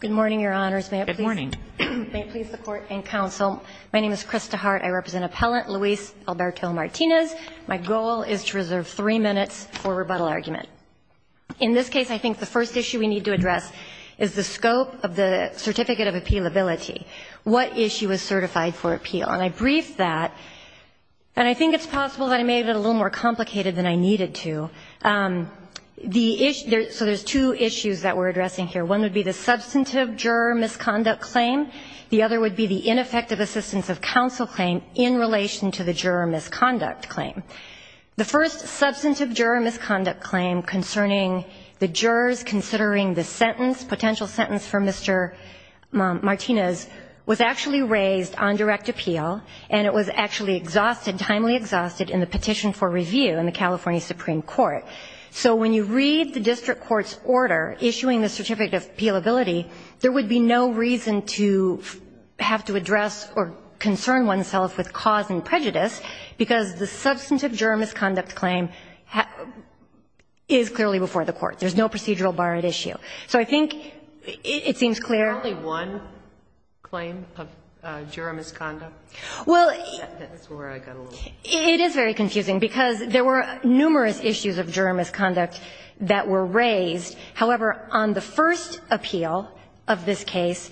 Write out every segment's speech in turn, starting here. Good morning, Your Honors. May it please the Court and Counsel, my name is Krista Hart. I represent Appellant Luis Alberto Martinez. My goal is to reserve three minutes for rebuttal argument. In this case, I think the first issue we need to address is the scope of the Certificate of Appealability. What issue is certified for appeal? And I briefed that, and I think it's possible that I made it a little more clear. One would be the substantive juror misconduct claim. The other would be the ineffective assistance of counsel claim in relation to the juror misconduct claim. The first substantive juror misconduct claim concerning the jurors considering the sentence, potential sentence for Mr. Martinez, was actually raised on direct appeal, and it was actually exhausted, timely exhausted, in the petition for review in the California Supreme Court. So when you read the district court's order issuing the Certificate of Appealability, there would be no reason to have to address or concern oneself with cause and prejudice, because the substantive juror misconduct claim is clearly before the court. There's no procedural bar at issue. So I think it seems clear. Sotomayor It's only one claim of juror misconduct? That's where I got a little confused. It is very confusing, because there were numerous issues of juror misconduct that were raised. However, on the first appeal of this case,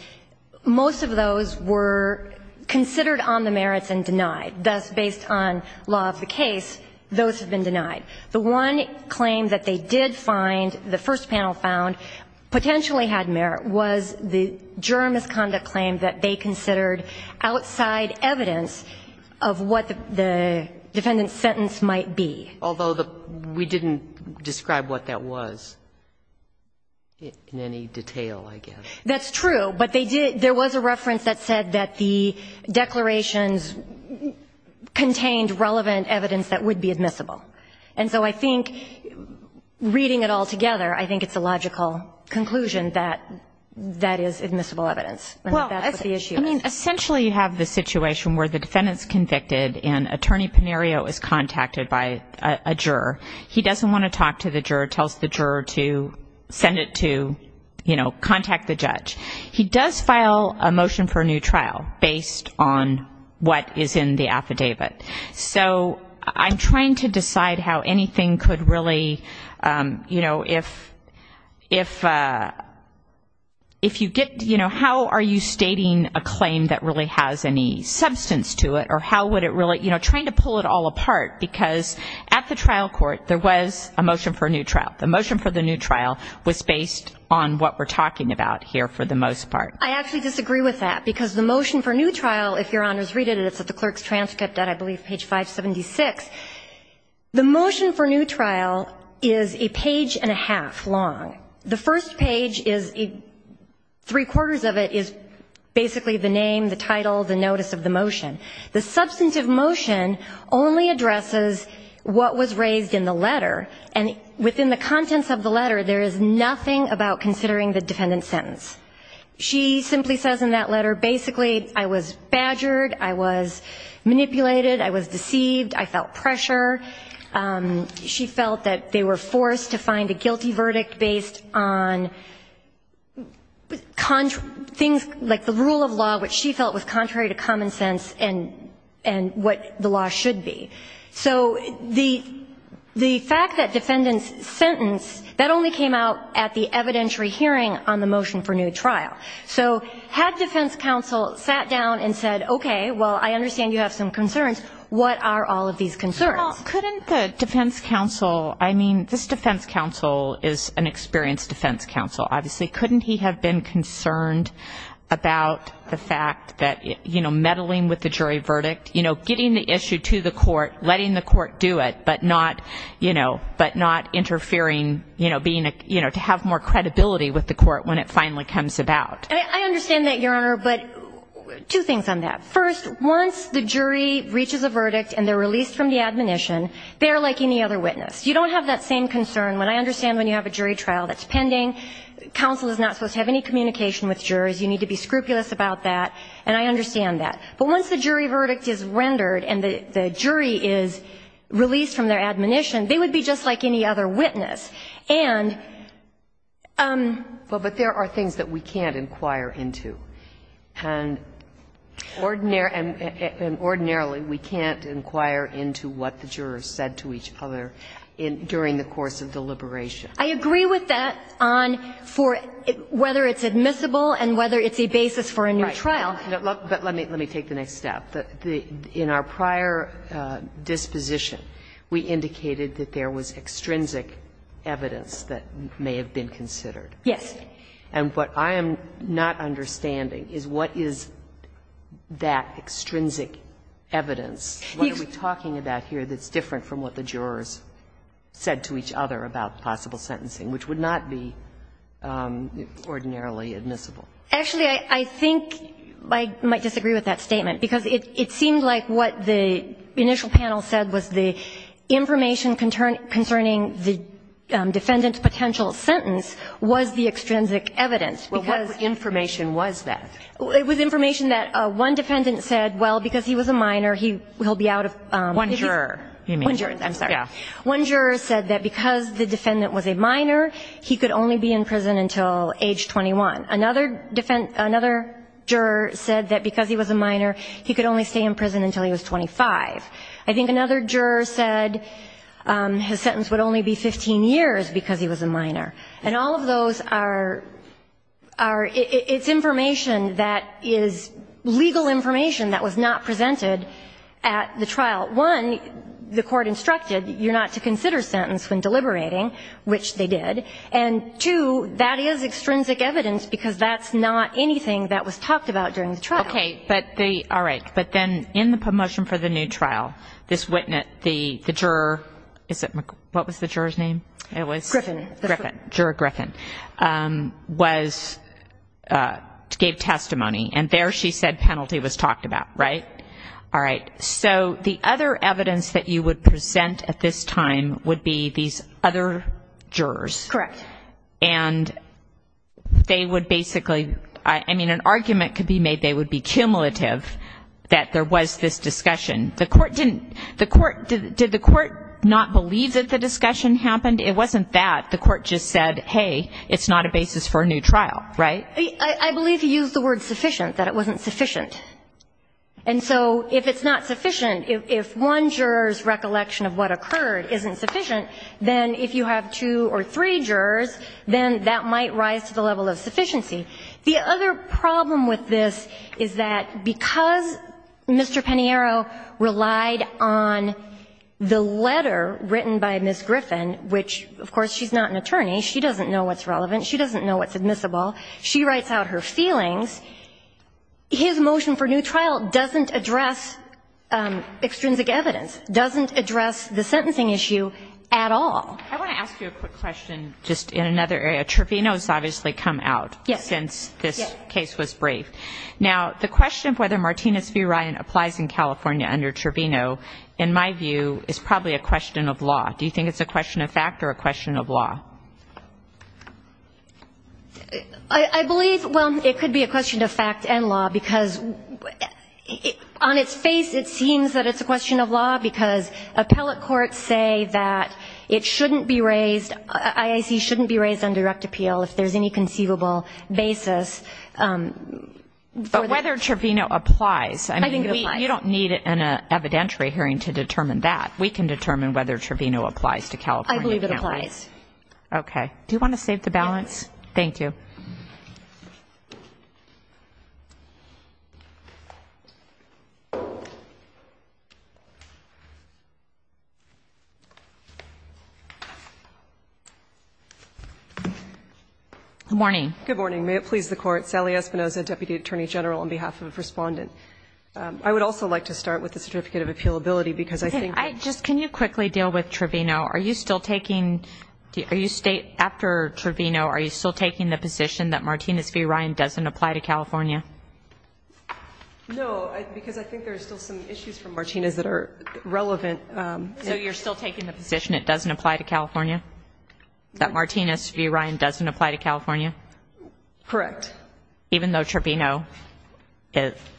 most of those were considered on the merits and denied. Thus, based on law of the case, those have been denied. The one claim that they did find, the defendant's sentence might be. Sotomayor Although we didn't describe what that was in any detail, I guess. That's true. But they did – there was a reference that said that the declarations contained relevant evidence that would be admissible. And so I think, reading it all together, I think it's a logical conclusion that that is admissible evidence, and that that's what the issue is. And essentially you have the situation where the defendant's convicted, and Attorney Panario is contacted by a juror. He doesn't want to talk to the juror, tells the juror to send it to, you know, contact the judge. He does file a motion for a new trial, based on what is in the affidavit. So I'm trying to decide how anything could really, you know, if – if you get – you know, how are you stating a claim that really has any substance to it, or how would it really – you know, trying to pull it all apart, because at the trial court, there was a motion for a new trial. The motion for the new trial was based on what we're talking about here for the most part. I actually disagree with that, because the motion for a new trial, if Your Honors read it, it's at the clerk's transcript at, I believe, page 576. The motion for a new trial is a page and a half long. The first page is – three-quarters of it is basically the name, the title, the notice of the motion. The substantive motion only addresses what was raised in the letter, and within the contents of the letter, there is nothing about considering the defendant's sentence. She simply says in that letter, basically, I was badgered, I was manipulated, I was deceived, I felt pressure. She felt that they were forced to find a guilty verdict based on things like the rule of law, which she felt was contrary to common sense and what the law should be. So the fact that defendants sentenced, that only came out at the evidentiary hearing on the motion for new trial. So had defense counsel sat down and said, okay, well, I understand you have some concerns. What are all of these concerns? Well, couldn't the defense counsel – I mean, this defense counsel is an experienced defense counsel, obviously. Couldn't he have been concerned about the fact that, you know, meddling with the jury verdict, you know, getting the issue to the court, letting the court do it, but not, you know, but not interfering, you know, being a – you know, to have more credibility with the court when it finally comes about? I understand that, Your Honor, but two things on that. First, once the jury reaches a verdict and they're released from the admonition, they're like any other witness. You don't have that same concern. What I understand when you have a jury trial that's pending, counsel is not supposed to have any communication with jurors. You need to be scrupulous about that. And I understand that. But once the jury verdict is rendered and the jury is released from their admonition, they would be just like any other witness. And – But there are things that we can't inquire into. And ordinarily we can't inquire into what the jurors said to each other during the course of deliberation. I agree with that on for whether it's admissible and whether it's a basis for a new trial. Right. But let me take the next step. In our prior disposition, we indicated that there was extrinsic evidence that may have been considered. Yes. And what I am not understanding is what is that extrinsic evidence? What are we talking about here that's different from what the jurors said to each other about possible sentencing, which would not be ordinarily admissible? Actually, I think I might disagree with that statement. Because it seemed like what the initial panel said was the information concerning the defendant's potential sentence was the extrinsic evidence. Well, what information was that? It was information that one defendant said, well, because he was a minor, he'll be out of prison. One juror, you mean. One juror. I'm sorry. Yes. One juror said that because the defendant was a minor, he could only be in prison until age 21. Another juror said that because he was a minor, he could only stay in prison until he was 25. I think another juror said his sentence would only be 15 years because he was a minor. And all of those are its information that is legal information that was not presented at the trial. One, the court instructed you're not to consider sentence when deliberating, which they did. And two, that is extrinsic evidence because that's not anything that was talked about during the trial. Okay. But the ‑‑ all right. But then in the motion for the new trial, this witness, the juror ‑‑ what was the juror's name? Griffin. Griffin. Juror Griffin. Was ‑‑ gave testimony. And there she said penalty was talked about. Right? All right. So the other evidence that you would present at this time would be these other jurors. Correct. And they would basically ‑‑ I mean, an argument could be made they would be cumulative that there was this discussion. The court didn't ‑‑ the court ‑‑ did the court not believe that the discussion happened? It wasn't that. The court just said, hey, it's not a basis for a new trial. Right? I believe he used the word sufficient, that it wasn't sufficient. And so if it's not sufficient, if one juror's recollection of what occurred isn't sufficient, then if you have two or three jurors, then that might rise to the level of sufficiency. The other problem with this is that because Mr. Peniero relied on the letter written by Ms. Griffin, which, of course, she's not an attorney, she doesn't know what's admissible, she writes out her feelings, his motion for new trial doesn't address extrinsic evidence, doesn't address the sentencing issue at all. I want to ask you a quick question just in another area. Trevino has obviously come out since this case was briefed. Yes. Now, the question of whether Martinez v. Ryan applies in California under Trevino in my view is probably a question of law. Do you think it's a question of fact or a question of law? I believe, well, it could be a question of fact and law because on its face it seems that it's a question of law because appellate courts say that it shouldn't be raised IIC shouldn't be raised on direct appeal if there's any conceivable basis for that. But whether Trevino applies, I mean, you don't need an evidentiary hearing to determine that. We can determine whether Trevino applies to California. I believe it applies. Okay. Do you want to save the balance? Yes. Thank you. Good morning. Good morning. May it please the Court. Sally Espinoza, Deputy Attorney General on behalf of a respondent. I would also like to start with the certificate of appealability because I think I just, can you quickly deal with Trevino? Are you still taking, are you, after Trevino, are you still taking the position that Martinez v. Ryan doesn't apply to California? No, because I think there's still some issues from Martinez that are relevant. So you're still taking the position it doesn't apply to California? That Martinez v. Ryan doesn't apply to California? Correct. Even though Trevino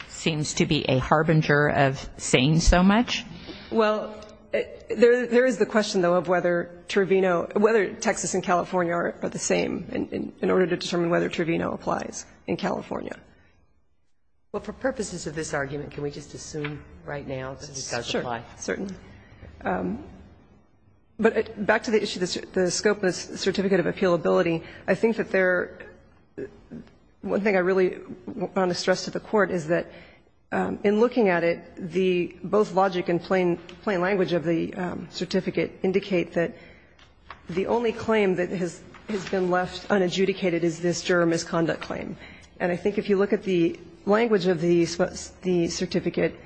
seems to be a harbinger of saying so much? Well, there is the question, though, of whether Trevino, whether Texas and California are the same in order to determine whether Trevino applies in California. Well, for purposes of this argument, can we just assume right now that it does apply? Sure. Certainly. But back to the issue, the scope of the certificate of appealability, I think that there, one thing I really want to stress to the Court is that in looking at it, the both logic and plain language of the certificate indicate that the only claim that has been left unadjudicated is this juror misconduct claim. And I think if you look at the language of the certificate,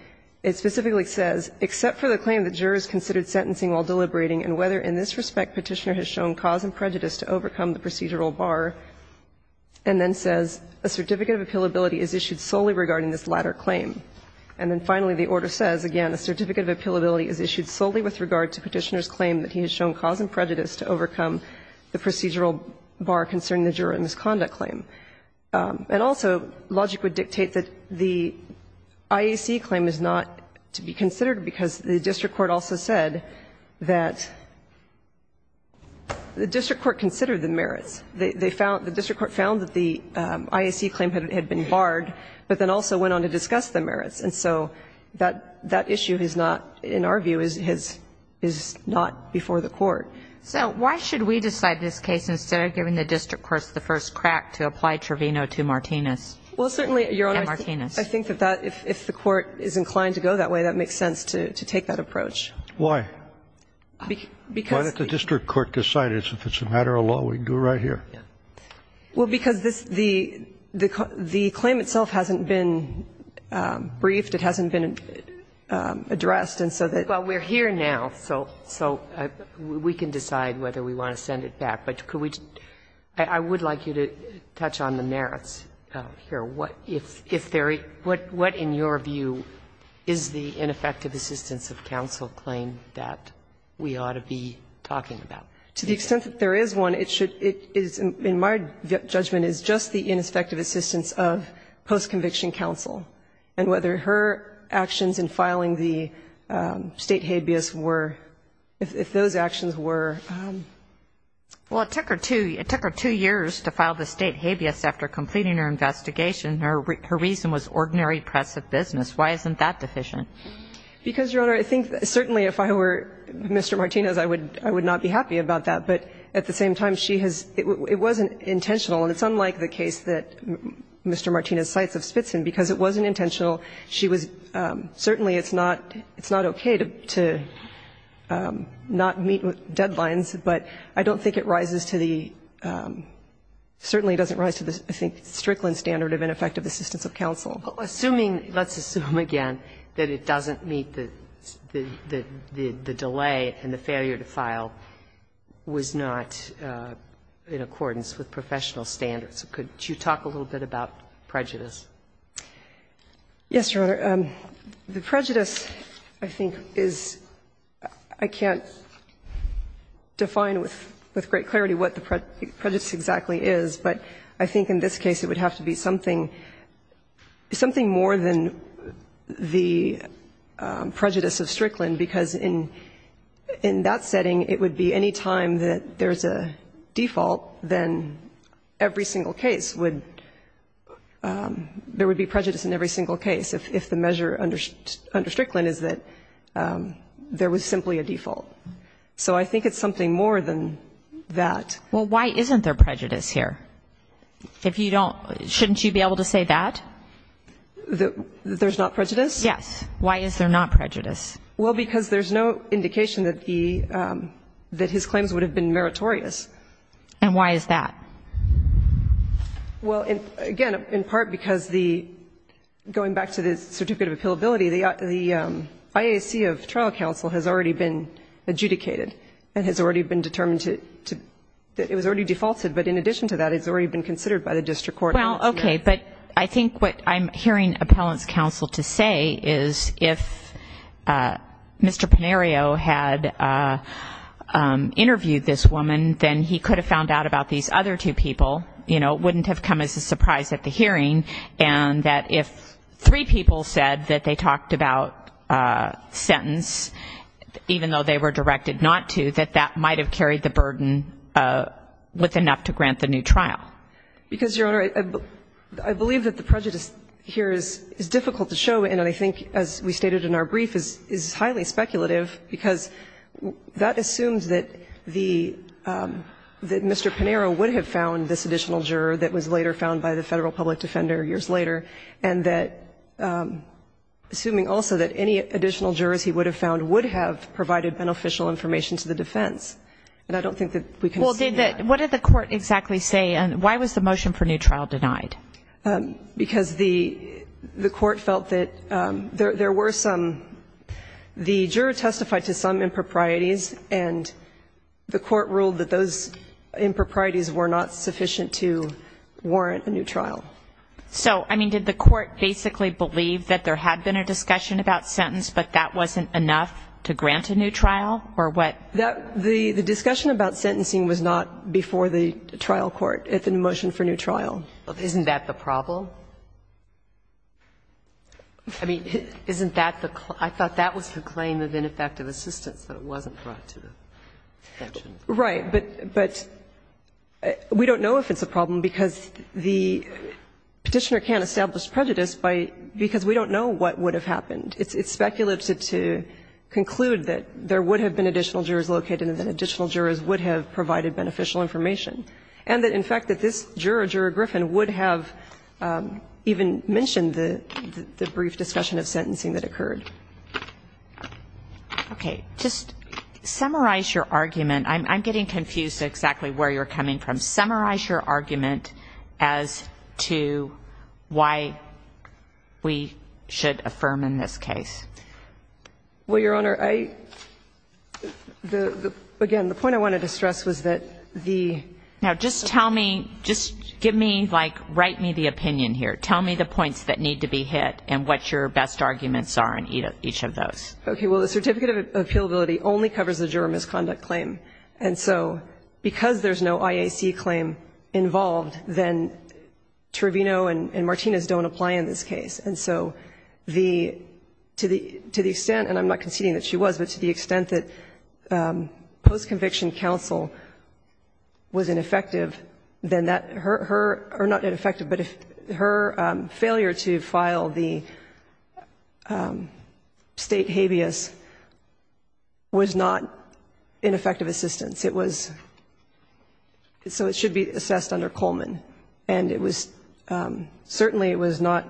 it specifically says, except for the claim that jurors considered sentencing while deliberating and whether in this respect Petitioner has shown cause and prejudice to overcome the procedural bar, and then says a certificate of appealability is issued solely regarding this latter claim. And then finally, the order says, again, a certificate of appealability is issued solely with regard to Petitioner's claim that he has shown cause and prejudice to overcome the procedural bar concerning the juror misconduct claim. And also, logic would dictate that the IAC claim is not to be considered because the district court also said that the district court considered the merits. They found, the district court found that the IAC claim had been barred, but then also went on to discuss the merits. And so that issue is not, in our view, is not before the Court. So why should we decide this case instead of giving the district courts the first crack to apply Trevino to Martinez? Well, certainly, Your Honor, I think that if the Court is inclined to go that way, that makes sense to take that approach. Why? Because the district court decided it's a matter of law. We can do it right here. Well, because this, the claim itself hasn't been briefed. It hasn't been addressed. And so that's why we're here now. So we can decide whether we want to send it back. But could we, I would like you to touch on the merits here. What, if there, what in your view is the ineffective assistance of counsel claim that we ought to be talking about? To the extent that there is one, it should, it is, in my judgment, is just the ineffective assistance of post-conviction counsel and whether her actions in filing the State habeas were, if those actions were. Well, it took her two, it took her two years to file the State habeas after completing her investigation. Her reason was ordinary press of business. Why isn't that deficient? Because, Your Honor, I think certainly if I were Mr. Martinez, I would, I would not be happy about that. But at the same time, she has, it wasn't intentional. And it's unlike the case that Mr. Martinez cites of Spitzin, because it wasn't intentional. She was, certainly it's not, it's not okay to, to not meet deadlines, but I don't think it rises to the, certainly doesn't rise to the, I think, Strickland standard of ineffective assistance of counsel. Assuming, let's assume again that it doesn't meet the, the delay and the failure to file was not in accordance with professional standards. Could you talk a little bit about prejudice? Yes, Your Honor. The prejudice, I think, is, I can't define with, with great clarity what the prejudice exactly is, but I think in this case it would have to be something, something more than the prejudice of Strickland, because in, in that setting, it would be any time that there's a default, then every single case would, there would be prejudice in every single case if, if the measure under, under Strickland is that there was simply a default. So I think it's something more than that. Well, why isn't there prejudice here? If you don't, shouldn't you be able to say that? There's not prejudice? Yes. Why is there not prejudice? Well, because there's no indication that the, that his claims would have been meritorious. And why is that? Well, again, in part because the, going back to the certificate of appealability, the IAC of trial counsel has already been adjudicated and has already been determined to, it was already defaulted, but in addition to that, it's already been considered by the district court. Well, okay, but I think what I'm hearing appellant's counsel to say is if Mr. Pinario had interviewed this woman, then he could have found out about these other two people. You know, it wouldn't have come as a surprise at the hearing, and that if three people said that they talked about sentence, even though they were directed not to, that that might have carried the burden with enough to grant the new trial. Because, Your Honor, I believe that the prejudice here is difficult to show, and I think, as we stated in our brief, is highly speculative, because that assumes that the, that Mr. Pinario would have found this additional juror that was later found by the Federal Public Defender years later, and that, assuming also that any additional jurors he would have found would have provided beneficial information to the defense. And I don't think that we can say that. What did the court exactly say, and why was the motion for new trial denied? Because the court felt that there were some, the juror testified to some improprieties, and the court ruled that those improprieties were not sufficient to warrant a new trial. So, I mean, did the court basically believe that there had been a discussion about sentence, but that wasn't enough to grant a new trial, or what? The discussion about sentencing was not before the trial court at the motion for new trial. Isn't that the problem? I mean, isn't that the claim? I thought that was the claim of ineffective assistance, that it wasn't brought to the section. Right. But we don't know if it's a problem, because the Petitioner can't establish prejudice by, because we don't know what would have happened. It's speculative to conclude that there would have been additional jurors located and that additional jurors would have provided beneficial information. And that, in fact, that this juror, Juror Griffin, would have even mentioned the brief discussion of sentencing that occurred. Okay. Just summarize your argument. I'm getting confused exactly where you're coming from. Summarize your argument as to why we should affirm in this case. Well, Your Honor, I, the, again, the point I wanted to stress was that the. Now, just tell me, just give me, like, write me the opinion here. Tell me the points that need to be hit and what your best arguments are in each of those. Okay. Well, the certificate of appealability only covers the juror misconduct claim. And so because there's no IAC claim involved, then Trevino and Martinez don't apply in this case. And so the, to the extent, and I'm not conceding that she was, but to the extent that post-conviction counsel was ineffective, then that, her, or not ineffective, but her failure to file the state habeas was not ineffective assistance. It was, so it should be assessed under Coleman. And it was, certainly it was not,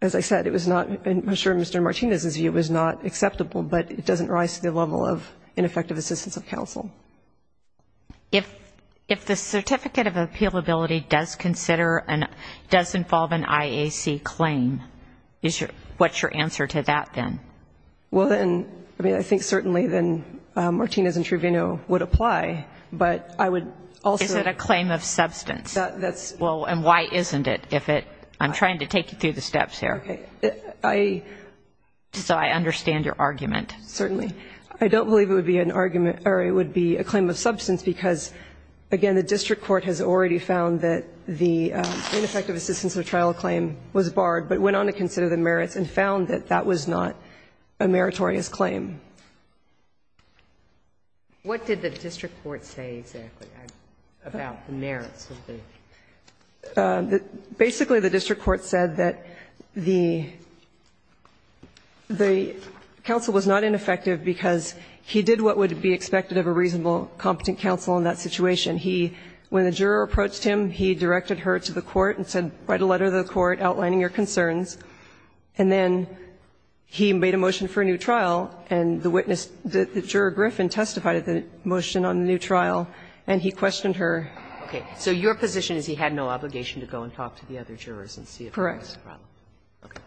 as I said, it was not, I'm sure Mr. Martinez's view was not acceptable, but it doesn't rise to the level of ineffective assistance of counsel. If the certificate of appealability does consider, does involve an IAC claim, what's your answer to that then? Well, then, I mean, I think certainly then Martinez and Trevino would apply, but I would also. Is it a claim of substance? That's. Well, and why isn't it if it, I'm trying to take you through the steps here. Okay. I. So I understand your argument. Certainly. I don't believe it would be an argument, or it would be a claim of substance because, again, the district court has already found that the ineffective assistance of trial claim was barred, but went on to consider the merits and found that that was not a meritorious claim. What did the district court say exactly about the merits of the? Basically, the district court said that the counsel was not ineffective because he did what would be expected of a reasonable, competent counsel in that situation. He, when the juror approached him, he directed her to the court and said write a letter to the court outlining your concerns. And then he made a motion for a new trial, and the witness, the juror Griffin, testified at the motion on the new trial, and he questioned her. Okay. So your position is he had no obligation to go and talk to the other jurors and see if there was a problem. Correct. Okay.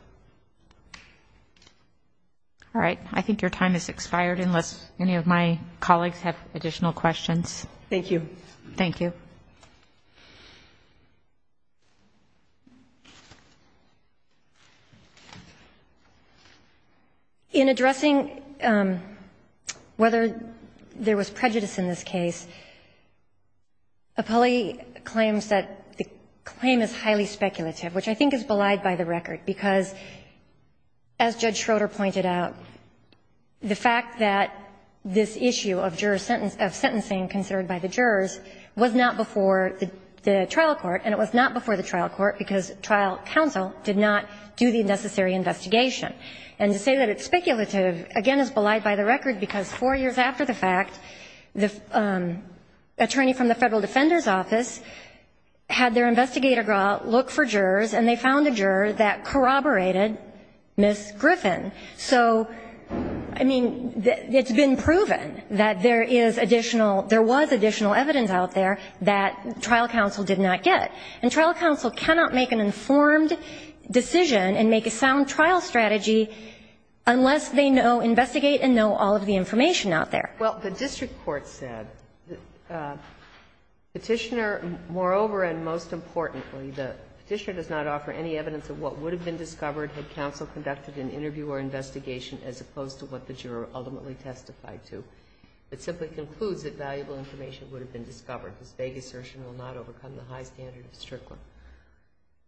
All right. I think your time has expired unless any of my colleagues have additional questions. Thank you. Thank you. In addressing whether there was prejudice in this case, Apolli claims that the claim is highly speculative, which I think is belied by the record, because as Judge Schroeder pointed out, the fact that this issue of jurors' sentence, of sentencing considered by the jurors, was not before the court. It was not before the trial court, and it was not before the trial court because trial counsel did not do the necessary investigation. And to say that it's speculative, again, is belied by the record, because four years after the fact, the attorney from the Federal Defender's Office had their investigator go out, look for jurors, and they found a juror that corroborated Ms. Griffin. So, I mean, it's been proven that there is additional – there was additional evidence out there that trial counsel did not get. And trial counsel cannot make an informed decision and make a sound trial strategy unless they know, investigate and know all of the information out there. Well, the district court said, Petitioner, moreover and most importantly, the Petitioner does not offer any evidence of what would have been discovered had counsel conducted an interview or investigation as opposed to what the juror ultimately testified to. It simply concludes that valuable information would have been discovered. This vague assertion will not overcome the high standard of district court,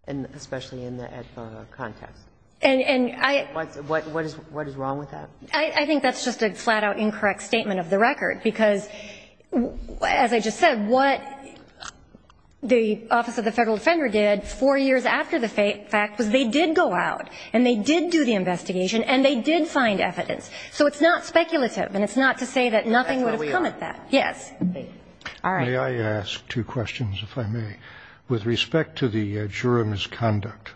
and especially in that context. And I – What is wrong with that? I think that's just a flat-out incorrect statement of the record, because, as I just said, what the Office of the Federal Defender did four years after the fact was they did go out and they did do the investigation and they did find evidence. So it's not speculative, and it's not to say that nothing would have come at that. That's where we are. Yes. All right. May I ask two questions, if I may? With respect to the juror misconduct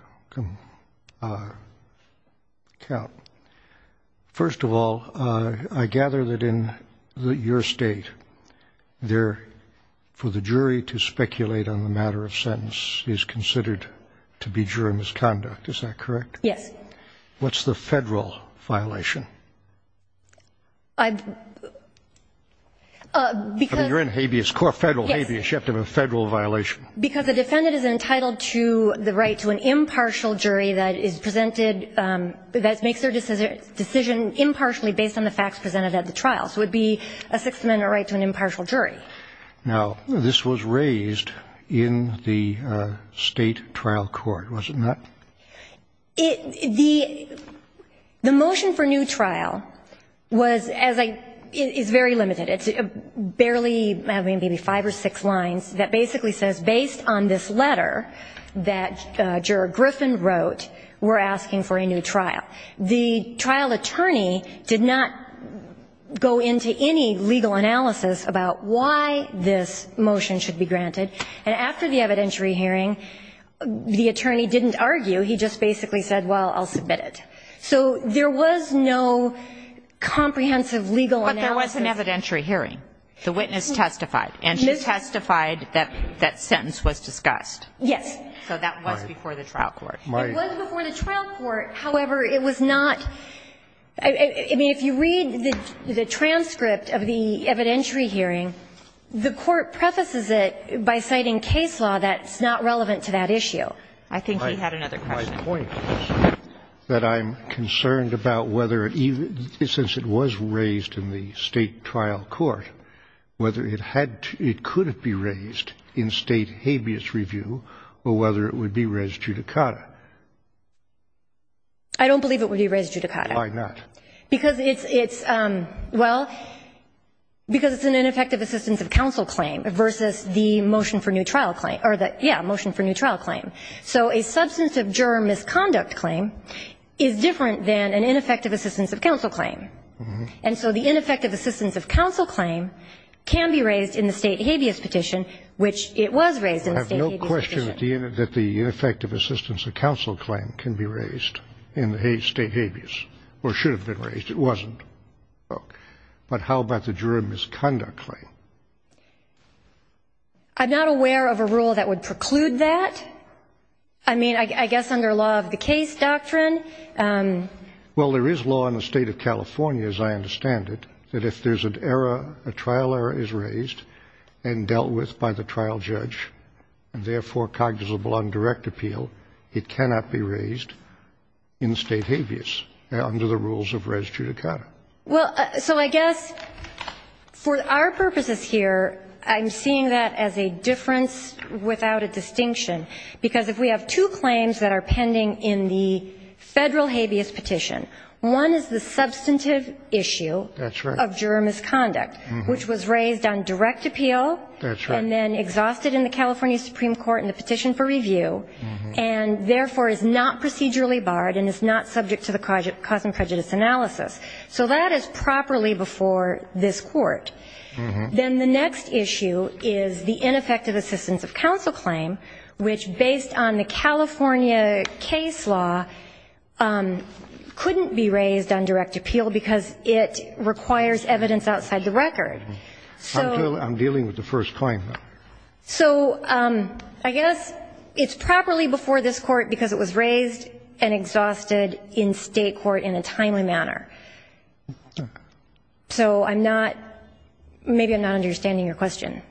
count, first of all, I gather that in your state there – for the jury to speculate on the matter of sentence is considered to be juror misconduct. Is that correct? Yes. What's the Federal violation? I've – because – I mean, you're in habeas – core Federal habeas. Yes. You have to have a Federal violation. Because a defendant is entitled to the right to an impartial jury that is presented – that makes their decision impartially based on the facts presented at the trial. So it would be a Sixth Amendment right to an impartial jury. Now, this was raised in the State trial court, was it not? It – the motion for new trial was as I – is very limited. It's barely – I mean, maybe five or six lines that basically says, based on this letter that Juror Griffin wrote, we're asking for a new trial. The trial attorney did not go into any legal analysis about why this motion should be granted. And after the evidentiary hearing, the attorney didn't argue. He just basically said, well, I'll submit it. So there was no comprehensive legal analysis. But there was an evidentiary hearing. The witness testified. And she testified that that sentence was discussed. Yes. So that was before the trial court. It was before the trial court. However, it was not – I mean, if you read the transcript of the evidentiary hearing, the Court prefaces it by citing case law that's not relevant to that issue. I think he had another question. My point is that I'm concerned about whether – since it was raised in the State trial court, whether it had to – it could have been raised in State habeas review or whether it would be res judicata. I don't believe it would be res judicata. Why not? Because it's – well, because it's an ineffective assistance of counsel claim versus the motion for new trial claim. Or the – yeah, motion for new trial claim. So a substance of juror misconduct claim is different than an ineffective assistance of counsel claim. And so the ineffective assistance of counsel claim can be raised in the State habeas petition, which it was raised in the State habeas petition. I have no question that the ineffective assistance of counsel claim can be raised in the State habeas or should have been raised. It wasn't. But how about the juror misconduct claim? I'm not aware of a rule that would preclude that. I mean, I guess under law of the case doctrine. Well, there is law in the State of California, as I understand it, that if there's an error, a trial error is raised and dealt with by the trial judge and, therefore, cognizable on direct appeal, it cannot be raised in State habeas under the rules of res judicata. Well, so I guess for our purposes here, I'm seeing that as a difference without a distinction, because if we have two claims that are pending in the Federal habeas petition, one is the substantive issue of juror misconduct, which was raised on direct appeal and, therefore, is not procedurally barred and is not subject to the cause and prejudice analysis. So that is properly before this Court. Then the next issue is the ineffective assistance of counsel claim, which, based on the California case law, couldn't be raised on direct appeal because it requires evidence outside the record. So. I'm dealing with the first claim. So I guess it's properly before this Court because it was raised and exhausted in State court in a timely manner. So I'm not – maybe I'm not understanding your question.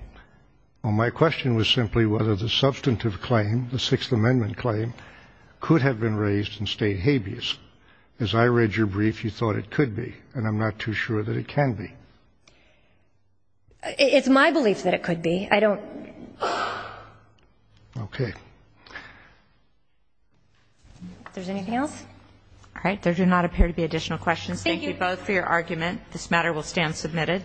Well, my question was simply whether the substantive claim, the Sixth Amendment claim, could have been raised in State habeas. As I read your brief, you thought it could be, and I'm not too sure that it can be. It's my belief that it could be. I don't. Okay. If there's anything else. All right. There do not appear to be additional questions. Thank you both for your argument. This matter will stand submitted.